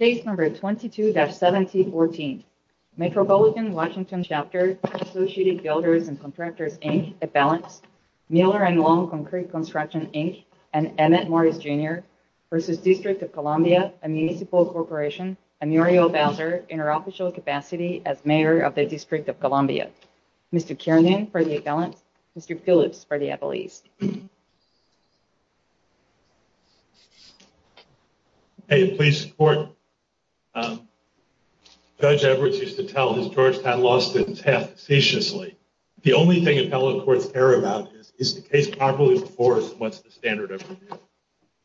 22-7014 Metropolitan Washington Chapter, Associated Builders and Contractors Inc., Eppalance, Miller and Long Concrete Construction Inc., and Emmett Morris Jr. v. District of Columbia, a Municipal Corporation, and Muriel Bowser, in her official capacity as Mayor of the District of Columbia. Mr. Kiernan for the Eppalance, Mr. Phillips for the Eppalese. Hey, please support Judge Edwards used to tell his Georgetown Law students to act facetiously. The only thing appellate courts care about is, is the case properly enforced and what's the standard of review.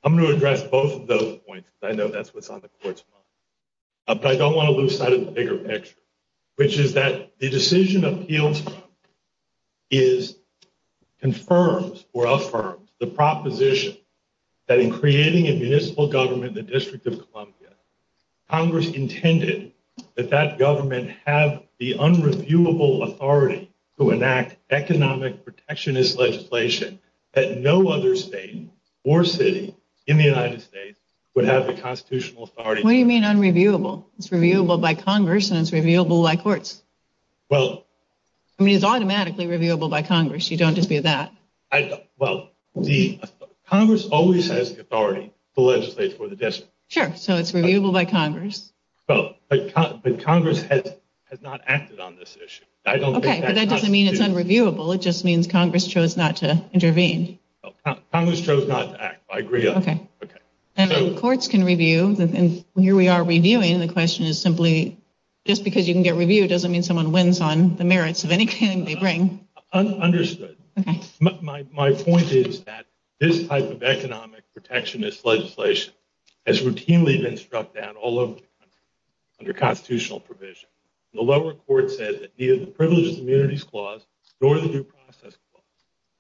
I'm going to address both of those points. I know that's what's on the court's mind. But I don't want to lose sight of the bigger picture, which is that the decision appeals from is confirms or affirms the proposition that in creating a municipal government, the District of Columbia, Congress intended that that government have the unreviewable authority to enact economic protectionist legislation that no other state or city in the United States would have the constitutional authority. What do you mean unreviewable? It's reviewable by Congress and it's reviewable by courts. Well, I mean, it's automatically reviewable by Congress. You don't dispute that. Well, the Congress always has authority to legislate for the district. Sure. So it's reviewable by Congress. But Congress has not acted on this issue. I don't think that doesn't mean it's unreviewable. It just means Congress chose not to intervene. Congress chose not to act. I agree. Okay. And courts can review. And here we are reviewing. The question is simply just because you can get reviewed doesn't mean someone wins on the merits of anything they bring. My point is that this type of economic protectionist legislation has routinely been struck down all over the country under constitutional provision. The lower court said that neither the Privileges and Immunities Clause nor the Due Process Clause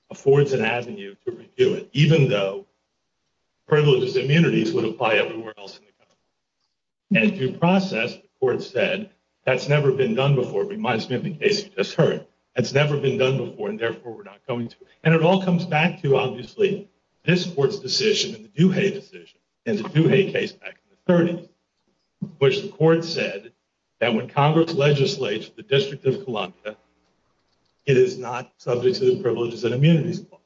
affords an avenue to review it, even though Privileges and Immunities would apply everywhere else in the country. And if you process, the court said, that's never been done before. It reminds me of the case you just heard. That's never been done before and therefore we're not going to. And it all comes back to obviously this court's decision and the Duhay decision and the Duhay case back in the 30s, which the court said that when Congress legislates for the District of Columbia, it is not subject to the Privileges and Immunities Clause,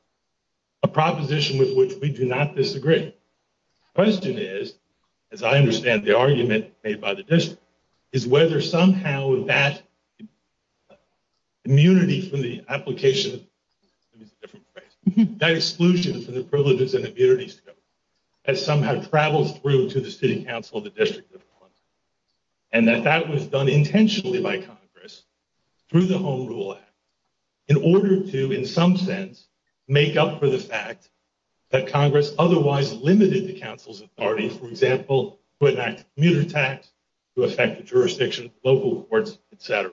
a proposition with which we do not disagree. The question is, as I understand the argument made by the District, is whether somehow that immunity from the application, let me use a different phrase, that exclusion from the Privileges and Immunities Clause has somehow traveled through to the City Council of the District of Columbia and that that was done intentionally by Congress through the Home Rule Act in order to, in some sense, make up for the fact that Congress otherwise limited the Council's authority, for example, to enact commuter tax, to affect the jurisdiction of local courts, etc.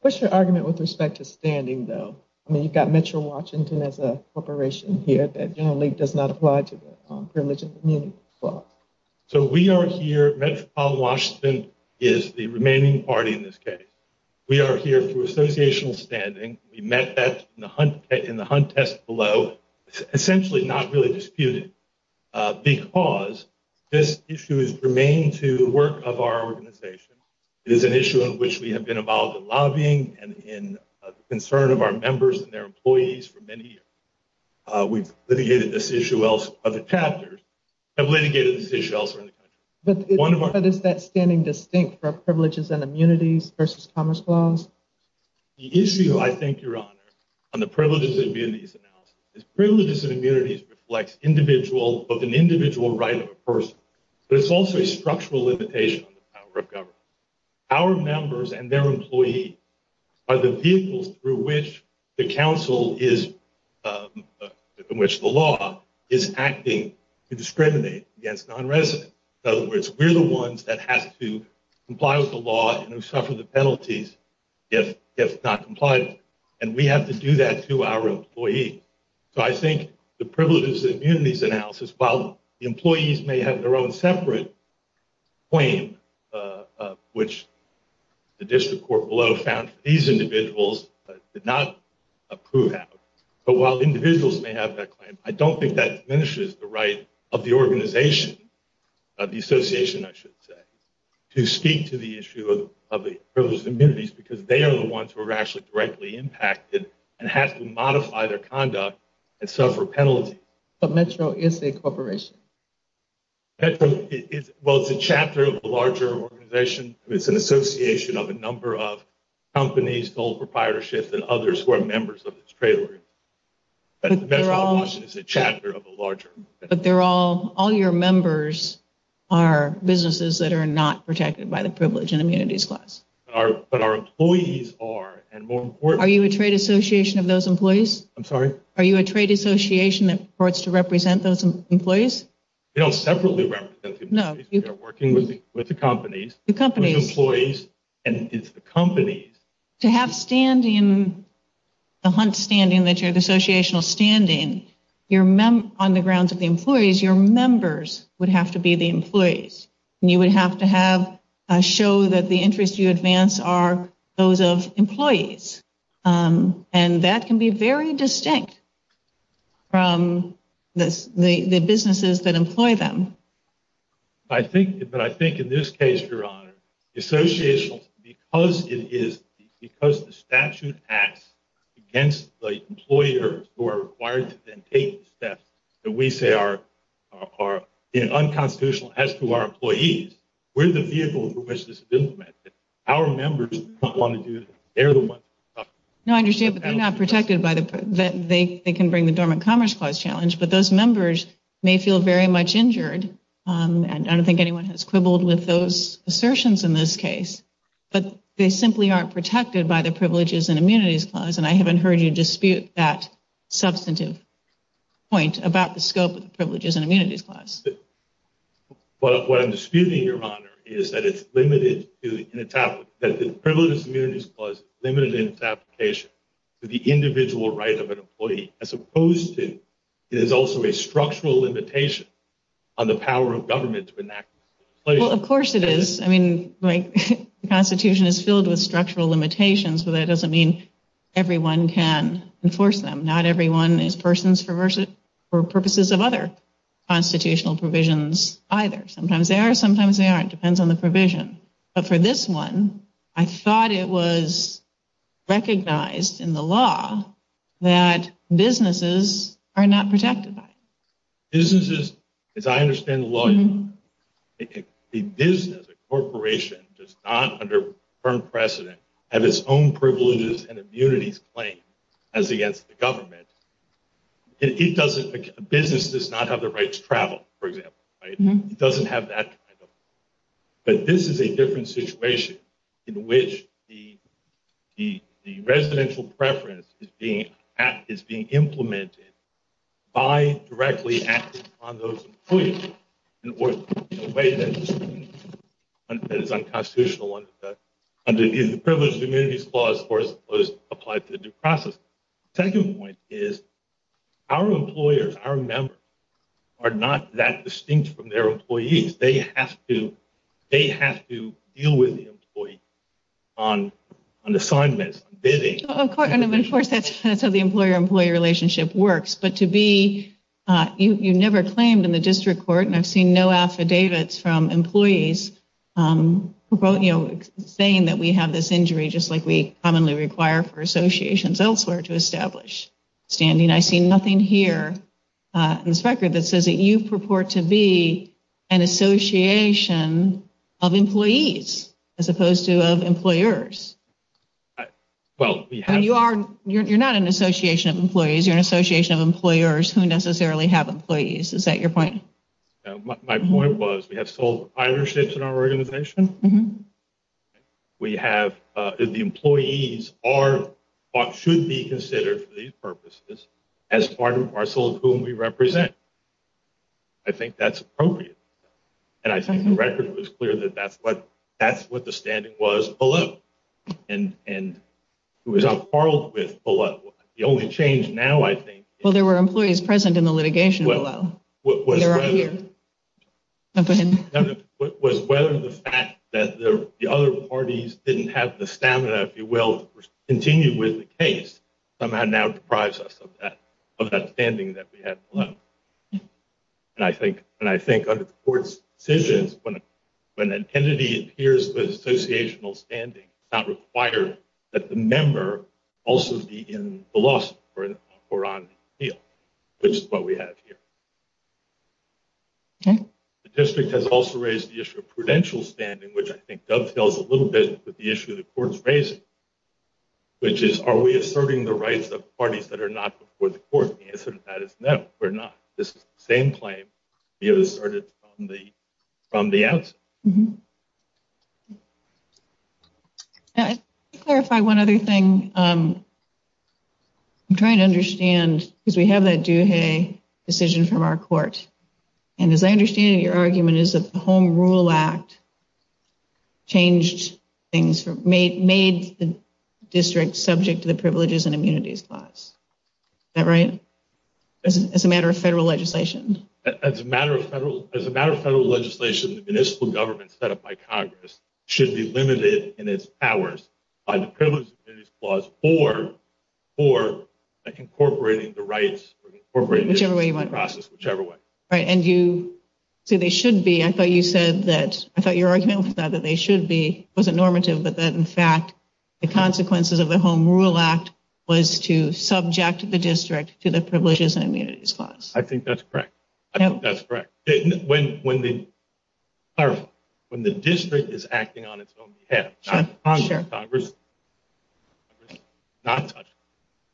What's your argument with respect to standing, though? I mean, you've got Metro Washington as a corporation here that generally does not apply to the Privileges and Immunities Clause. So we are here, Metro Washington is the remaining party in this case. We are here through associational standing. We met that in the hunt test below. It's essentially not really disputed because this issue has remained to the work of our organization. It is an issue on which we have been involved in lobbying and in the concern of our members and their employees for many years. We've litigated this issue elsewhere. Other chapters have litigated this issue elsewhere in the country. But is that standing distinct for Privileges and Immunities versus Commerce Clause? The issue, I think, Your Honor, on the Privileges and Immunities analysis is Privileges and Immunities reflects an individual right of a person, but it's also a structural limitation on the power of government. Our members and their employees are the vehicles through which the law is acting to discriminate against non-residents. In other words, we're the ones that have to comply with the law and who suffer the penalties if not compliant. And we have to do that to our employees. So I think the Privileges and Immunities analysis, while the employees may have their own separate claim, which the district court below found these individuals did not approve of, but while individuals may have that claim, I don't think that diminishes the right of the organization, of the association, I should say, to speak to the issue of the Privileges and Immunities because they are the ones who are actually directly involved. They have to be impacted and have to modify their conduct and suffer penalties. But Metro is a corporation. Well, it's a chapter of a larger organization. It's an association of a number of companies, gold proprietorships, and others who are members of this trailer. But all your members are businesses that are not protected by the Privileges and Immunities Clause. But our employees are. Are you a trade association of those employees? I'm sorry? Are you a trade association that supports to represent those employees? They don't separately represent the employees. We are working with the companies. The companies. With the employees and it's the companies. To have standing, the HUNT standing, that you're the associational standing, on the grounds of the employees, your members would have to be the employees. And you would have to have a show that the interests you advance are those of employees. And that can be very distinct from the businesses that employ them. I think, but I think in this case, Your Honor, associations, because it is because the statute acts against the employers who are required to then take steps that we say are unconstitutional as to our employees. We're the vehicle for which this is implemented. Our members don't want to do it. They're the ones. No, I understand, but they're not protected by that. They can bring the Dormant Commerce Clause challenge, but those members may feel very much injured. And I don't think anyone has quibbled with those assertions in this case, but they simply aren't protected by the Privileges and Immunities Clause. And I haven't heard you dispute that substantive point about the scope of the Privileges and Immunities Clause. But what I'm disputing, Your Honor, is that it's limited to, that the Privileges and Immunities Clause is limited in its application to the individual right of an employee, as opposed to it is also a structural limitation on the power of government to enact it. Well, of course it is. I mean, the Constitution is filled with structural limitations, but that doesn't mean everyone can enforce them. Not everyone is persons for purposes of other constitutional provisions either. Sometimes they are, sometimes they aren't. It depends on the provision. But for this one, I thought it was recognized in the law that businesses are not protected by it. Businesses, as I understand the law, a business, a corporation, does not under firm precedent have its own Privileges and Immunities Claim as against the government. A business does not have the right to travel, for example. It doesn't have that kind of right. But this is a different situation in which the residential preference is being implemented by directly acting on those employees in a way that is unconstitutional under either the Privileges and Immunities Clause or is applied to the due process. The second point is our employers, our members, are not that distinct from their employees. They have to deal with the employee on assignments, bidding. Of course, that's how the employer-employee relationship works. But you never claimed in the district court, and I've seen no affidavits from employees saying that we have this injury just like we commonly require for associations elsewhere to establish standing. I see nothing here in this record that says that you purport to be an association of employees as opposed to of employers. You're not an association of employees. You're an association of employers who necessarily have employees. Is that your point? My point was we have sole proprietorships in our organization. We have the employees are what should be considered for these purposes as part and parcel of whom we represent. I think that's appropriate. And I think the record was clear that that's what the standing was below. And it was upheld with below. The only change now, I think… Well, there were employees present in the litigation below. They're not here. …was whether the fact that the other parties didn't have the stamina, if you will, to continue with the case, somehow now deprives us of that standing that we had below. And I think under the court's decisions, when an entity adheres to the associational standing, it's not required that the member also be in the lawsuit or on appeal, which is what we have here. The district has also raised the issue of prudential standing, which I think dovetails a little bit with the issue the court's raising, which is are we asserting the rights of parties that are not before the court? The answer to that is no, we're not. This is the same claim we have asserted from the outset. Let me clarify one other thing. I'm trying to understand, because we have that Duhay decision from our court. And as I understand it, your argument is that the Home Rule Act changed things, made the district subject to the Privileges and Immunities Clause. Is that right? As a matter of federal legislation? As a matter of federal legislation, the municipal government set up by Congress should be limited in its powers by the Privileges and Immunities Clause or incorporating the rights, incorporating the process, whichever way. Right. And you say they should be. I thought you said that. I thought your argument was that they should be. It wasn't normative, but that, in fact, the consequences of the Home Rule Act was to subject the district to the Privileges and Immunities Clause. I think that's correct. I think that's correct. When the district is acting on its own behalf, not Congress.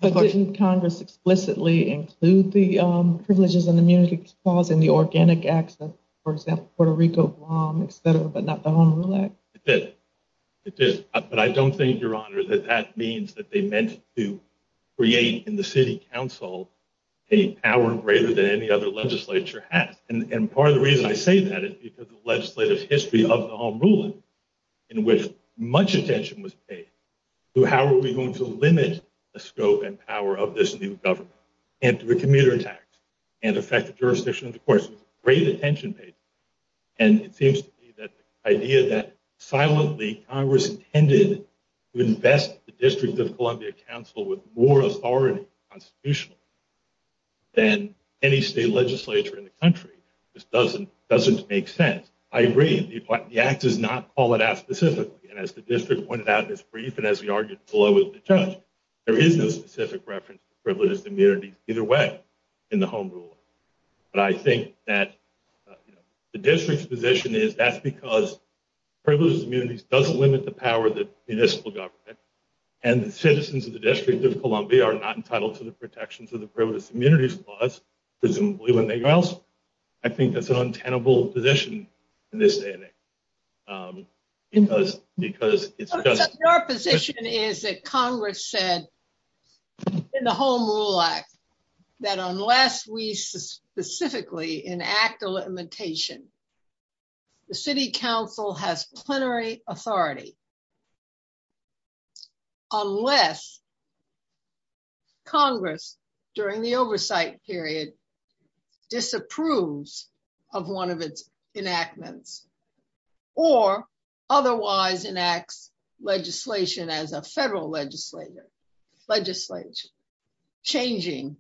But didn't Congress explicitly include the Privileges and Immunities Clause in the organic acts of, for example, Puerto Rico, Guam, etc., but not the Home Rule Act? It did. But I don't think, Your Honor, that that means that they meant to create in the city council a power greater than any other legislature has. And part of the reason I say that is because of the legislative history of the Home Rule Act, in which much attention was paid to how are we going to limit the scope and power of this new government. And to the commuter tax and the fact that jurisdictions, of course, great attention paid. And it seems to me that the idea that silently Congress intended to invest the District of Columbia Council with more authority constitutionally than any state legislature in the country just doesn't make sense. I agree. The act does not call it out specifically. And as the district pointed out in its brief, and as we argued below with the judge, there is no specific reference to Privileges and Immunities either way in the Home Rule Act. But I think that the district's position is that's because Privileges and Immunities does limit the power of the municipal government. And the citizens of the District of Columbia are not entitled to the protections of the Privileges and Immunities clause, presumably when they go out. I think that's an untenable position in this day and age. Your position is that Congress said in the Home Rule Act, that unless we specifically enact a limitation, the City Council has plenary authority. Unless Congress, during the oversight period, disapproves of one of its enactments, or otherwise enacts legislation as a federal legislature, changing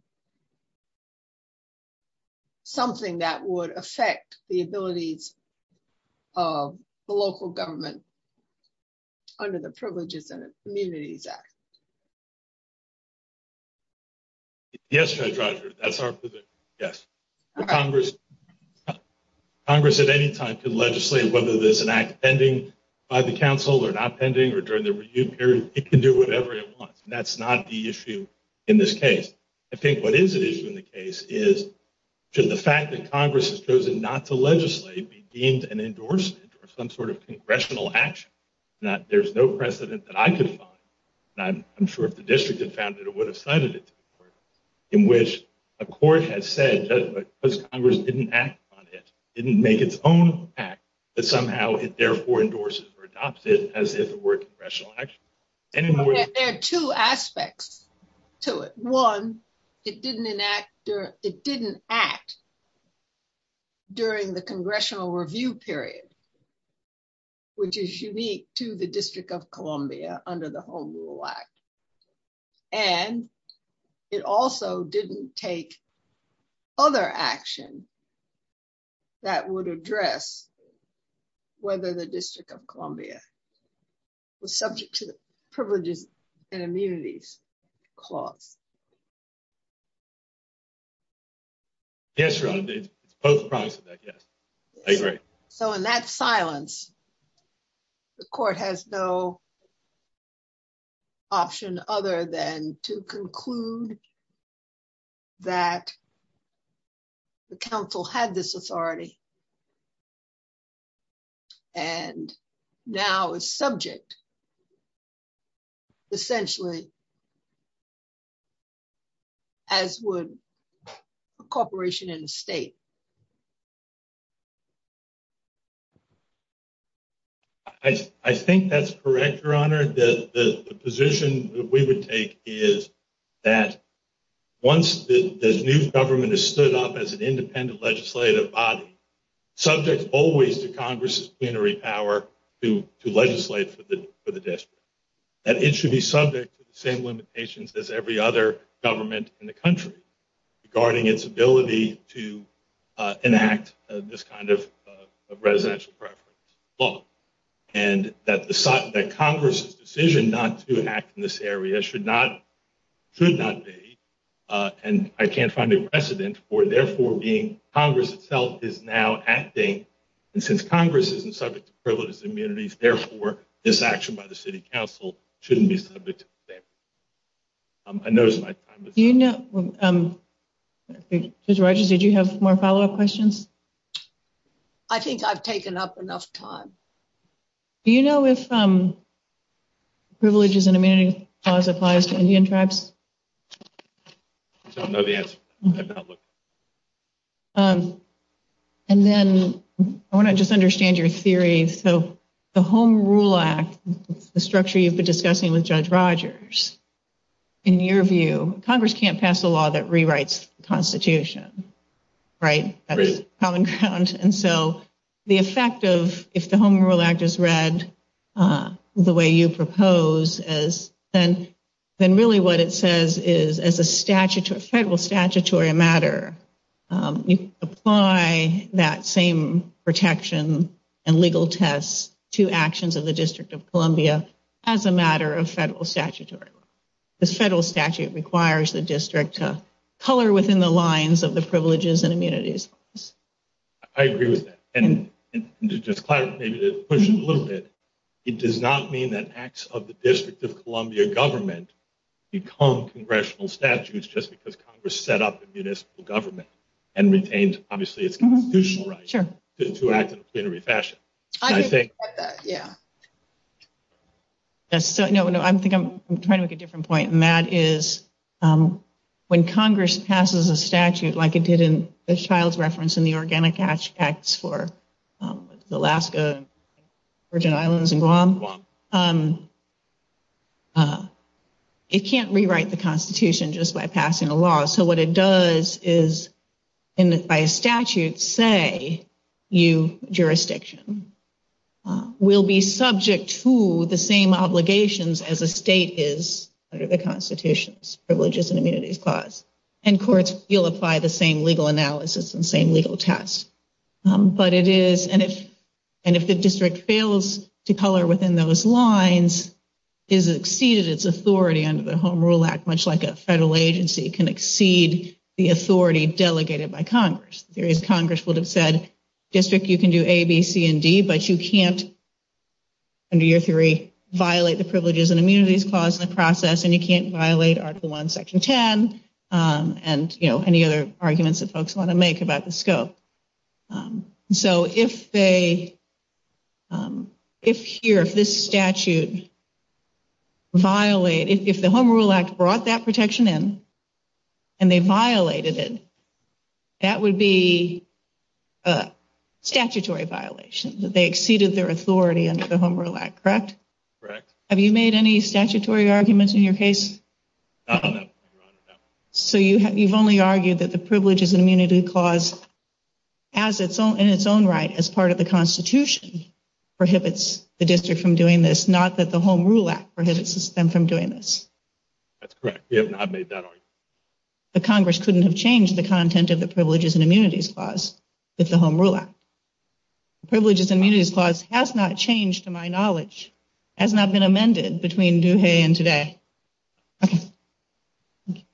something that would affect the abilities of the local government under the Privileges and Immunities Act? Yes, Judge Rogers. That's our position. Yes. Congress at any time can legislate whether there's an act pending by the Council or not pending or during the review period. It can do whatever it wants. And that's not the issue in this case. I think what is the issue in the case is should the fact that Congress has chosen not to legislate be deemed an endorsement or some sort of congressional action? There's no precedent that I could find, and I'm sure if the District had found it, it would have cited it, in which a court has said, because Congress didn't act on it, didn't make its own act, that somehow it therefore endorses or adopts it as if it were a congressional action. There are two aspects to it. One, it didn't act during the congressional review period, which is unique to the District of Columbia under the Home Rule Act. And it also didn't take other action that would address whether the District of Columbia was subject to the Privileges and Immunities Clause. Yes, Your Honor. It's both sides of that, yes. I agree. So in that silence, the Court has no option other than to conclude that the Council had this authority and now is subject, essentially, as would a corporation in the state. I think that's correct, Your Honor. The position that we would take is that once the new government is stood up as an independent legislative body, subject always to Congress' plenary power to legislate for the District, that it should be subject to the same limitations as every other government in the country regarding its ability to enact this kind of residential preference law. And that Congress' decision not to act in this area should not be, and I can't find a precedent for therefore being, Congress itself is now acting, and since Congress isn't subject to privileges and immunities, therefore, this action by the City Council shouldn't be subject to the same. Judge Rogers, did you have more follow-up questions? I think I've taken up enough time. Do you know if the Privileges and Immunities Clause applies to Indian tribes? I don't know the answer. I've not looked. And then I want to just understand your theory. So the Home Rule Act, the structure you've been discussing with Judge Rogers, in your view, Congress can't pass a law that rewrites the Constitution, right? And so the effect of, if the Home Rule Act is read the way you propose, then really what it says is, as a federal statutory matter, you apply that same protection and legal tests to actions of the District of Columbia as a matter of federal statutory law. This federal statute requires the District to color within the lines of the Privileges and Immunities Clause. I agree with that. And to just clarify, maybe to push it a little bit, it does not mean that acts of the District of Columbia government become congressional statutes just because Congress set up a municipal government and retains, obviously, its constitutional right to act in a plenary fashion. I agree with that, yeah. I think I'm trying to make a different point, and that is, when Congress passes a statute like it did in the Child's Reference and the Organic Acts for Alaska, Virgin Islands, and Guam, it can't rewrite the Constitution just by passing a law. So what it does is, by a statute, say you, jurisdiction, will be subject to the same obligations as a state is under the Constitution's Privileges and Immunities Clause. And courts will apply the same legal analysis and same legal tests. But it is, and if the District fails to color within those lines, it has exceeded its authority under the Home Rule Act, much like a federal agency can exceed the authority delegated by Congress. Congress would have said, District, you can do A, B, C, and D, but you can't, under your theory, violate the Privileges and Immunities Clause in the process, and you can't violate Article I, Section 10, and any other arguments that folks want to make about the scope. So if they, if here, if this statute violated, if the Home Rule Act brought that protection in, and they violated it, that would be a statutory violation, that they exceeded their authority under the Home Rule Act, correct? Correct. Have you made any statutory arguments in your case? No, Your Honor, no. So you've only argued that the Privileges and Immunities Clause, in its own right, as part of the Constitution, prohibits the District from doing this, not that the Home Rule Act prohibits them from doing this. That's correct. We have not made that argument. But Congress couldn't have changed the content of the Privileges and Immunities Clause with the Home Rule Act. The Privileges and Immunities Clause has not changed, to my knowledge, has not been amended between Duhay and today.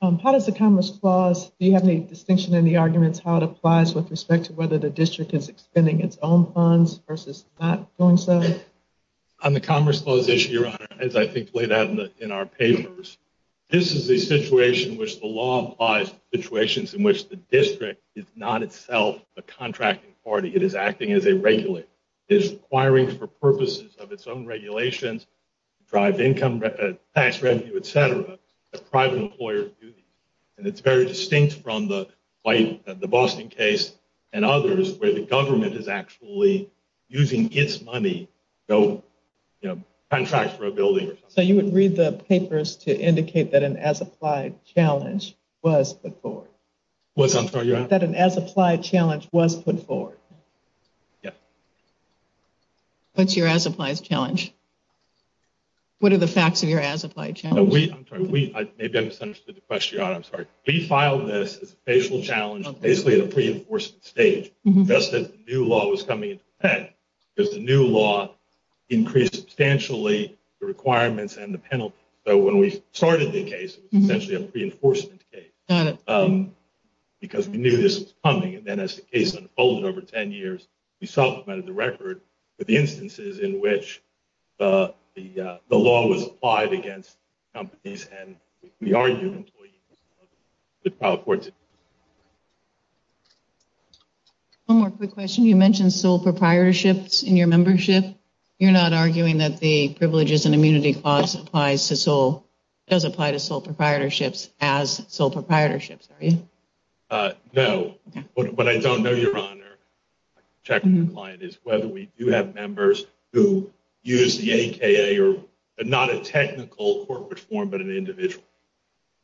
How does the Commerce Clause, do you have any distinction in the arguments how it applies with respect to whether the District is expending its own funds versus not doing so? On the Commerce Clause issue, Your Honor, as I think laid out in our papers, this is a situation in which the law applies to situations in which the District is not itself a contracting party. It is acting as a regulator. It is requiring for purposes of its own regulations to drive income, tax revenue, etc. that private employers do these. And it's very distinct from the Boston case and others where the government is actually using its money to go, you know, contracts for a building or something. So you would read the papers to indicate that an as-applied challenge was put forward? What's that, Your Honor? That an as-applied challenge was put forward. Yeah. What's your as-applied challenge? What are the facts of your as-applied challenge? I'm sorry, maybe I misunderstood the question, Your Honor. I'm sorry. We filed this as a facial challenge, basically at a pre-enforcement stage just as the new law was coming into effect. Because the new law increased substantially the requirements and the penalties. So when we started the case, it was essentially a pre-enforcement case. Got it. Because we knew this was coming. And then as the case unfolded over 10 years, we supplemented the record with the instances in which the law was applied against companies and, we argued, employees. One more quick question. You mentioned sole proprietorships in your membership. You're not arguing that the Privileges and Immunity Clause does apply to sole proprietorships as sole proprietorships, are you? No. What I don't know, Your Honor, is whether we do have members who use the AKA, or not a technical corporate form, but an individual.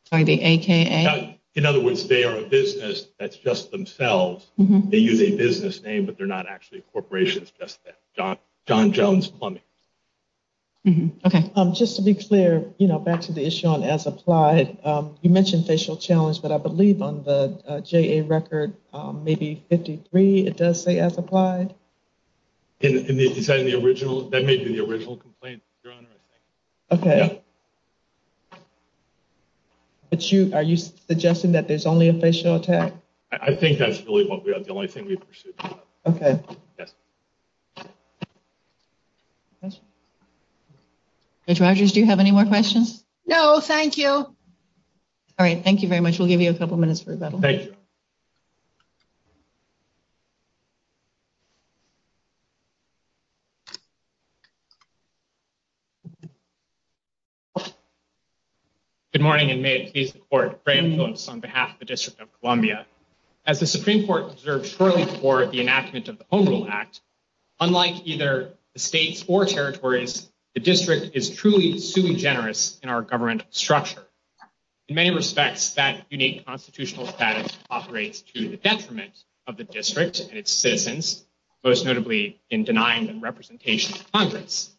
Sorry, the AKA? In other words, they are a business that's just themselves. They use a business name, but they're not actually a corporation. It's just John Jones Plumbing. Okay. Just to be clear, back to the issue on as applied, you mentioned facial challenge, but I believe on the JA record, maybe 53, it does say as applied? That may be the original complaint, Your Honor, I think. Okay. But are you suggesting that there's only a facial attack? I think that's really the only thing we've pursued. Okay. Yes. Judge Rogers, do you have any more questions? No, thank you. All right, thank you very much. We'll give you a couple minutes for rebuttal. Thank you. Thank you, Your Honor. Good morning and may it please the court, Graham Phillips on behalf of the District of Columbia. As the Supreme Court observed shortly before the enactment of the Home Rule Act, unlike either the states or territories, the district is truly sui generis in our government structure. In many respects, that unique constitutional status operates to the detriment of the district and its citizens, most notably in denying them representation in Congress.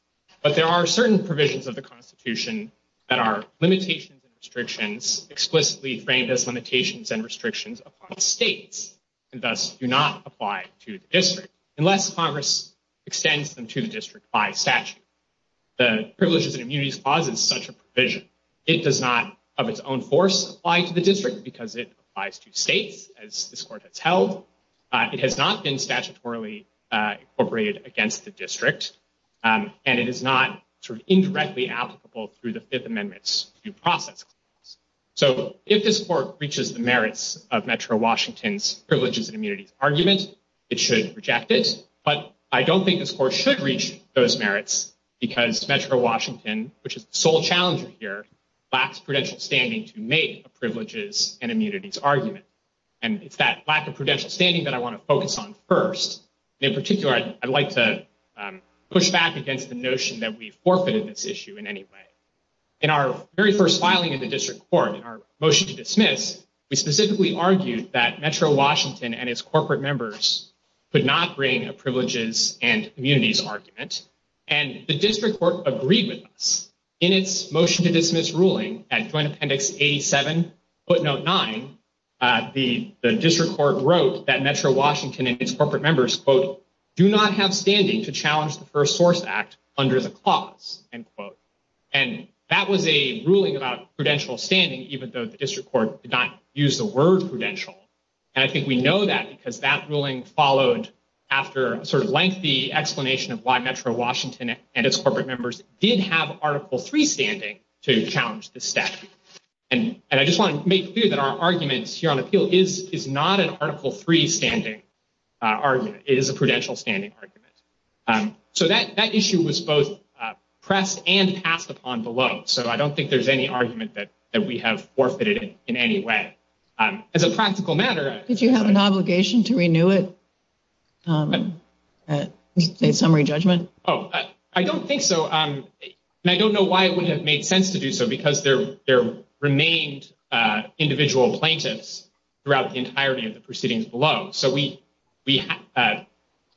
But there are certain provisions of the Constitution that are limitations and restrictions explicitly framed as limitations and restrictions upon states, and thus do not apply to the district, unless Congress extends them to the district by statute. The Privileges and Immunities Clause is such a provision. It does not, of its own force, apply to the district because it applies to states, as this court has held. It has not been statutorily incorporated against the district, and it is not indirectly applicable through the Fifth Amendment's due process clause. So if this court reaches the merits of Metro Washington's Privileges and Immunities argument, it should reject it. But I don't think this court should reach those merits because Metro Washington, which is the sole challenger here, lacks prudential standing to make a Privileges and Immunities argument. And it's that lack of prudential standing that I want to focus on first. In particular, I'd like to push back against the notion that we've forfeited this issue in any way. In our very first filing in the district court, in our motion to dismiss, we specifically argued that Metro Washington and its corporate members could not bring a Privileges and Immunities argument. And the district court agreed with us. In its motion to dismiss ruling at Joint Appendix 87, footnote 9, the district court wrote that Metro Washington and its corporate members, quote, do not have standing to challenge the First Source Act under the clause, end quote. And that was a ruling about prudential standing, even though the district court did not use the word prudential. And I think we know that because that ruling followed after a sort of lengthy explanation of why Metro Washington and its corporate members did have Article III standing to challenge this step. And I just want to make clear that our arguments here on appeal is not an Article III standing argument. It is a prudential standing argument. So that issue was both pressed and passed upon below. So I don't think there's any argument that we have forfeited in any way. As a practical matter. Did you have an obligation to renew it? A summary judgment? Oh, I don't think so. And I don't know why it would have made sense to do so, because there remained individual plaintiffs throughout the entirety of the proceedings below. So we the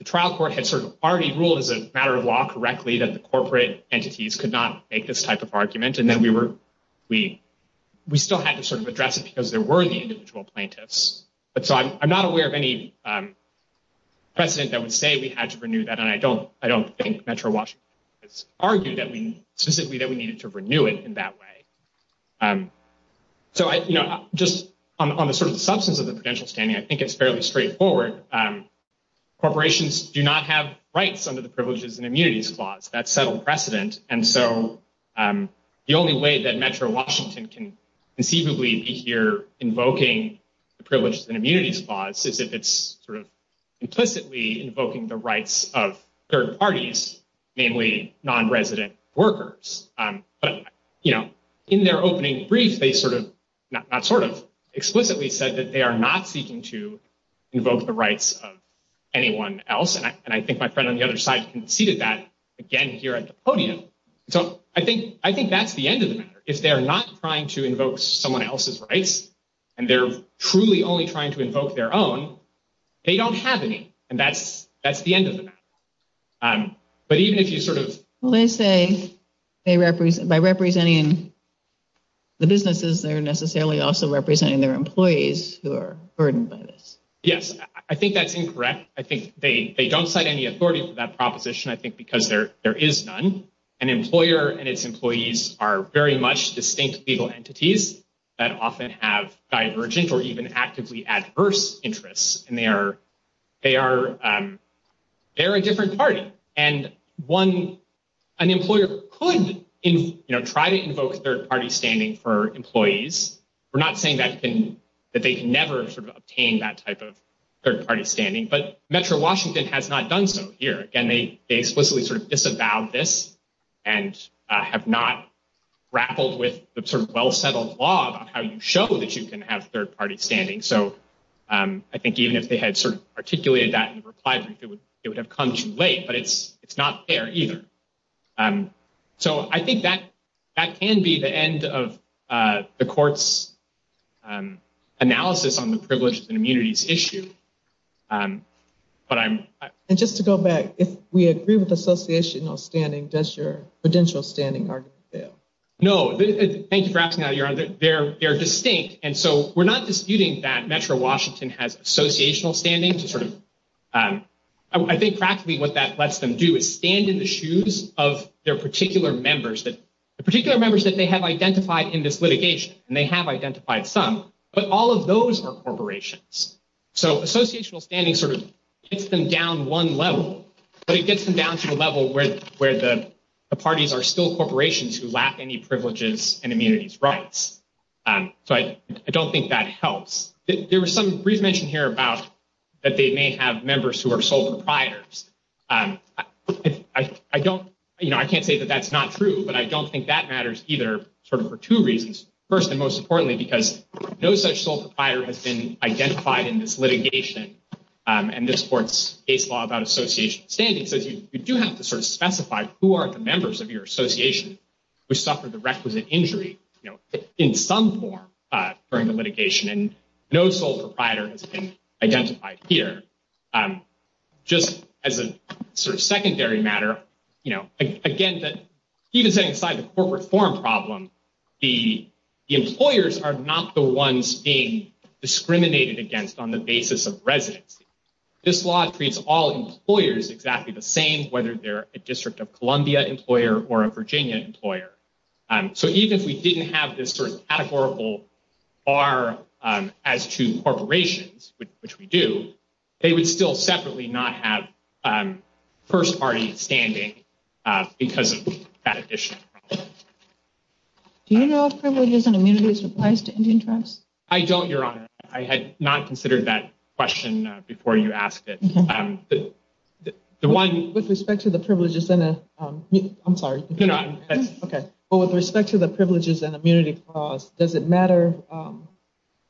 trial court had sort of already ruled as a matter of law correctly that the corporate entities could not make this type of argument. And then we were we we still had to sort of address it because there were the individual plaintiffs. But so I'm not aware of any precedent that would say we had to renew that. And I don't I don't think Metro Washington has argued that we specifically that we needed to renew it in that way. So, you know, just on the sort of substance of the prudential standing, I think it's fairly straightforward. Corporations do not have rights under the privileges and immunities clause that settled precedent. And so the only way that Metro Washington can conceivably be here invoking the privileges and immunities clause is if it's sort of implicitly invoking the rights of third parties, namely nonresident workers. But, you know, in their opening brief, they sort of not sort of explicitly said that they are not seeking to invoke the rights of anyone else. And I think my friend on the other side conceded that again here at the podium. So I think I think that's the end of the matter. If they're not trying to invoke someone else's rights and they're truly only trying to invoke their own, they don't have any. And that's that's the end of it. But even if you sort of say they represent by representing. The businesses are necessarily also representing their employees who are burdened by this. Yes, I think that's incorrect. I think they don't cite any authority for that proposition, I think, because there there is none. An employer and its employees are very much distinct legal entities that often have divergent or even actively adverse interests. And they are they are they're a different party. And one, an employer could try to invoke third party standing for employees. We're not saying that can that they can never sort of obtain that type of third party standing. But Metro Washington has not done so here. And they explicitly sort of disavowed this and have not grappled with the sort of well-settled law about how you show that you can have third party standing. So I think even if they had sort of articulated that in reply, it would it would have come too late. But it's it's not fair either. So I think that that can be the end of the court's analysis on the privileges and immunities issue. But I'm just to go back. If we agree with the association of standing, does your potential standing argue? No. Thank you for asking. They're they're distinct. And so we're not disputing that Metro Washington has associational standing to sort of. I think practically what that lets them do is stand in the shoes of their particular members that the particular members that they have identified in this litigation. And they have identified some. But all of those are corporations. So associational standing sort of gets them down one level, but it gets them down to a level where where the parties are still corporations who lack any privileges and immunities rights. So I don't think that helps. There was some brief mention here about that they may have members who are sole proprietors. I don't you know, I can't say that that's not true, but I don't think that matters either. Sort of for two reasons. First and most importantly, because no such sole proprietor has been identified in this litigation. And this court's case law about association standing says you do have to sort of specify who are the members of your association who suffered the requisite injury in some form during the litigation. And no sole proprietor has been identified here. Just as a sort of secondary matter. You know, again, that even setting aside the corporate form problem, the employers are not the ones being discriminated against on the basis of residency. This law treats all employers exactly the same, whether they're a District of Columbia employer or a Virginia employer. So even if we didn't have this sort of categorical are as to corporations, which we do, they would still separately not have first party standing because of that issue. Do you know if privileges and immunities applies to Indian tribes? I don't, Your Honor. I had not considered that question before you asked it. With respect to the privileges and immunity clause, does it matter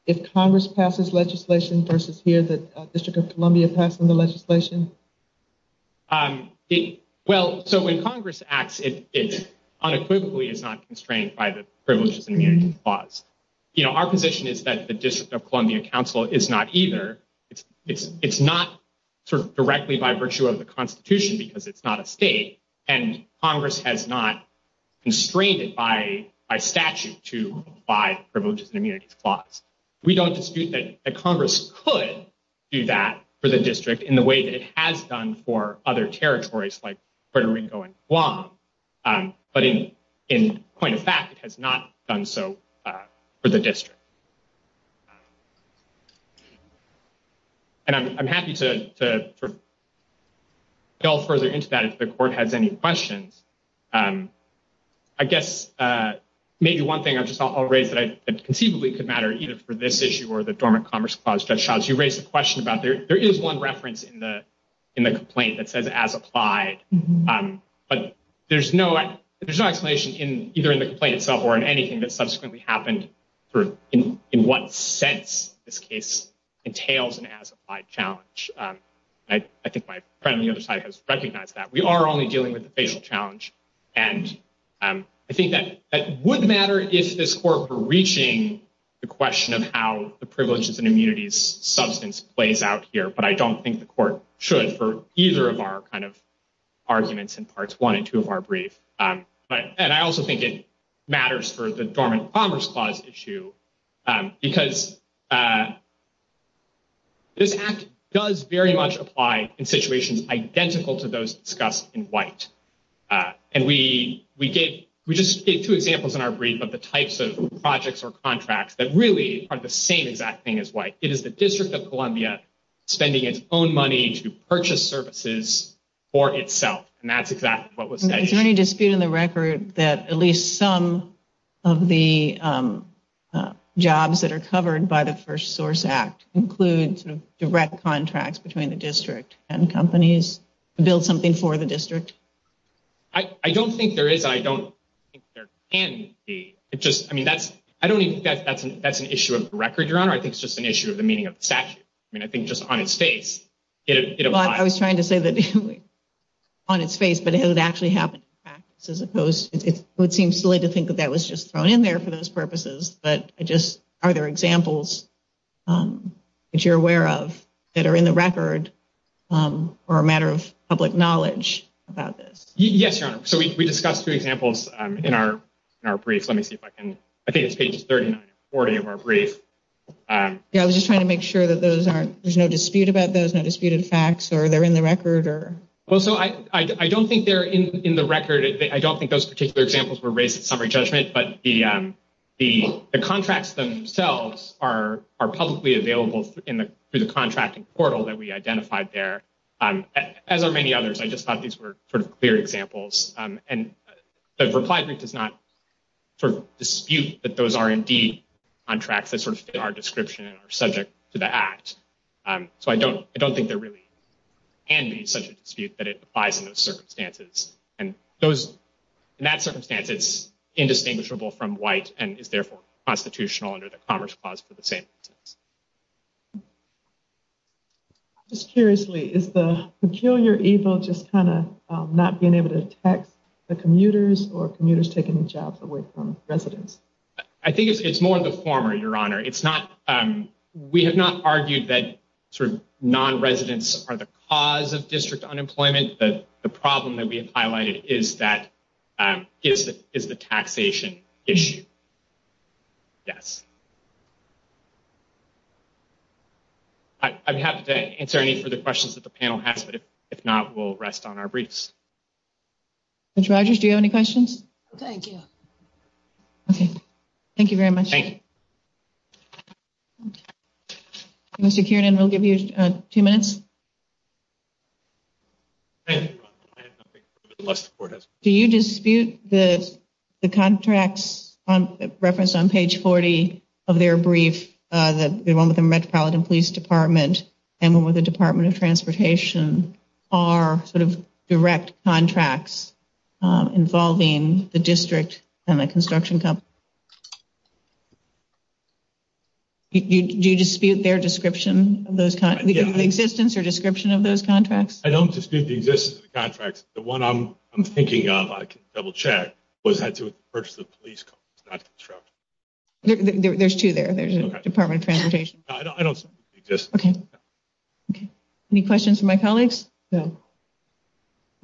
if Congress passes legislation versus here the District of Columbia passing the legislation? Well, so when Congress acts, it unequivocally is not constrained by the privileges and immunity clause. You know, our position is that the District of Columbia Council is not either. It's it's it's not sort of directly by virtue of the Constitution because it's not a state. And Congress has not constrained it by a statute to apply privileges and immunity clause. We don't dispute that Congress could do that for the district in the way that it has done for other territories like Puerto Rico and Guam. But in in point of fact, it has not done so for the district. And I'm happy to delve further into that if the court has any questions. I guess maybe one thing I just thought I'll raise that I conceivably could matter either for this issue or the dormant commerce clause. You raised a question about there. There is one reference in the in the complaint that says as applied. But there's no there's no explanation in either in the complaint itself or in anything that subsequently happened in. In what sense this case entails and has applied challenge. I think my friend on the other side has recognized that we are only dealing with the facial challenge. And I think that that would matter if this court were reaching the question of how the privileges and immunities substance plays out here. But I don't think the court should for either of our kind of arguments in parts one and two of our brief. But I also think it matters for the dormant commerce clause issue because. This act does very much apply in situations identical to those discussed in white. And we we get we just get two examples in our brief of the types of projects or contracts that really are the same exact thing as white. It is the District of Columbia spending its own money to purchase services for itself. And that's exactly what was there any dispute in the record that at least some of the jobs that are covered by the first source act includes direct contracts between the district and companies build something for the district. I don't think there is. I don't think there can be. It's just I mean, that's I don't think that's an that's an issue of record. I think it's just an issue of the meaning of the statute. I mean, I think just on its face. I was trying to say that on its face, but it actually happened as opposed. It would seem silly to think that that was just thrown in there for those purposes. But I just are there examples that you're aware of that are in the record or a matter of public knowledge about this? Yes. So we discussed two examples in our brief. Let me see if I can. I think it's page 30, 40 of our brief. I was just trying to make sure that those aren't there's no dispute about those no disputed facts or they're in the record or. Well, so I don't think they're in the record. I don't think those particular examples were raised in summary judgment. But the the contracts themselves are are publicly available in the contracting portal that we identified there, as are many others. I just thought these were sort of clear examples. And the reply group does not dispute that those are indeed on track. They sort of are description or subject to the act. So I don't I don't think there really can be such a dispute that it applies in those circumstances. And those in that circumstance, it's indistinguishable from white and is therefore constitutional under the Commerce Clause for the same. Just curiously, is the peculiar evil just kind of not being able to tax the commuters or commuters taking jobs away from residents? I think it's more of the former, Your Honor. It's not. We have not argued that sort of non-residents are the cause of district unemployment. But the problem that we have highlighted is that is that is the taxation issue. Yes. I'm happy to answer any further questions that the panel has, but if not, we'll rest on our briefs. Rogers, do you have any questions? Thank you. Thank you very much. Mr. Kiernan, we'll give you two minutes. Do you dispute that the contracts referenced on page 40 of their brief, the one with the Metropolitan Police Department and one with the Department of Transportation are sort of direct contracts involving the district and the construction company? Do you dispute their description of the existence or description of those contracts? I don't dispute the existence of the contracts. The one I'm thinking of, I can double check, was had to do with the purchase of the police company, not construction. There's two there. There's the Department of Transportation. I don't dispute the existence. Any questions from my colleagues? No.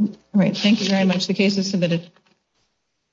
All right. Thank you very much. The case is submitted.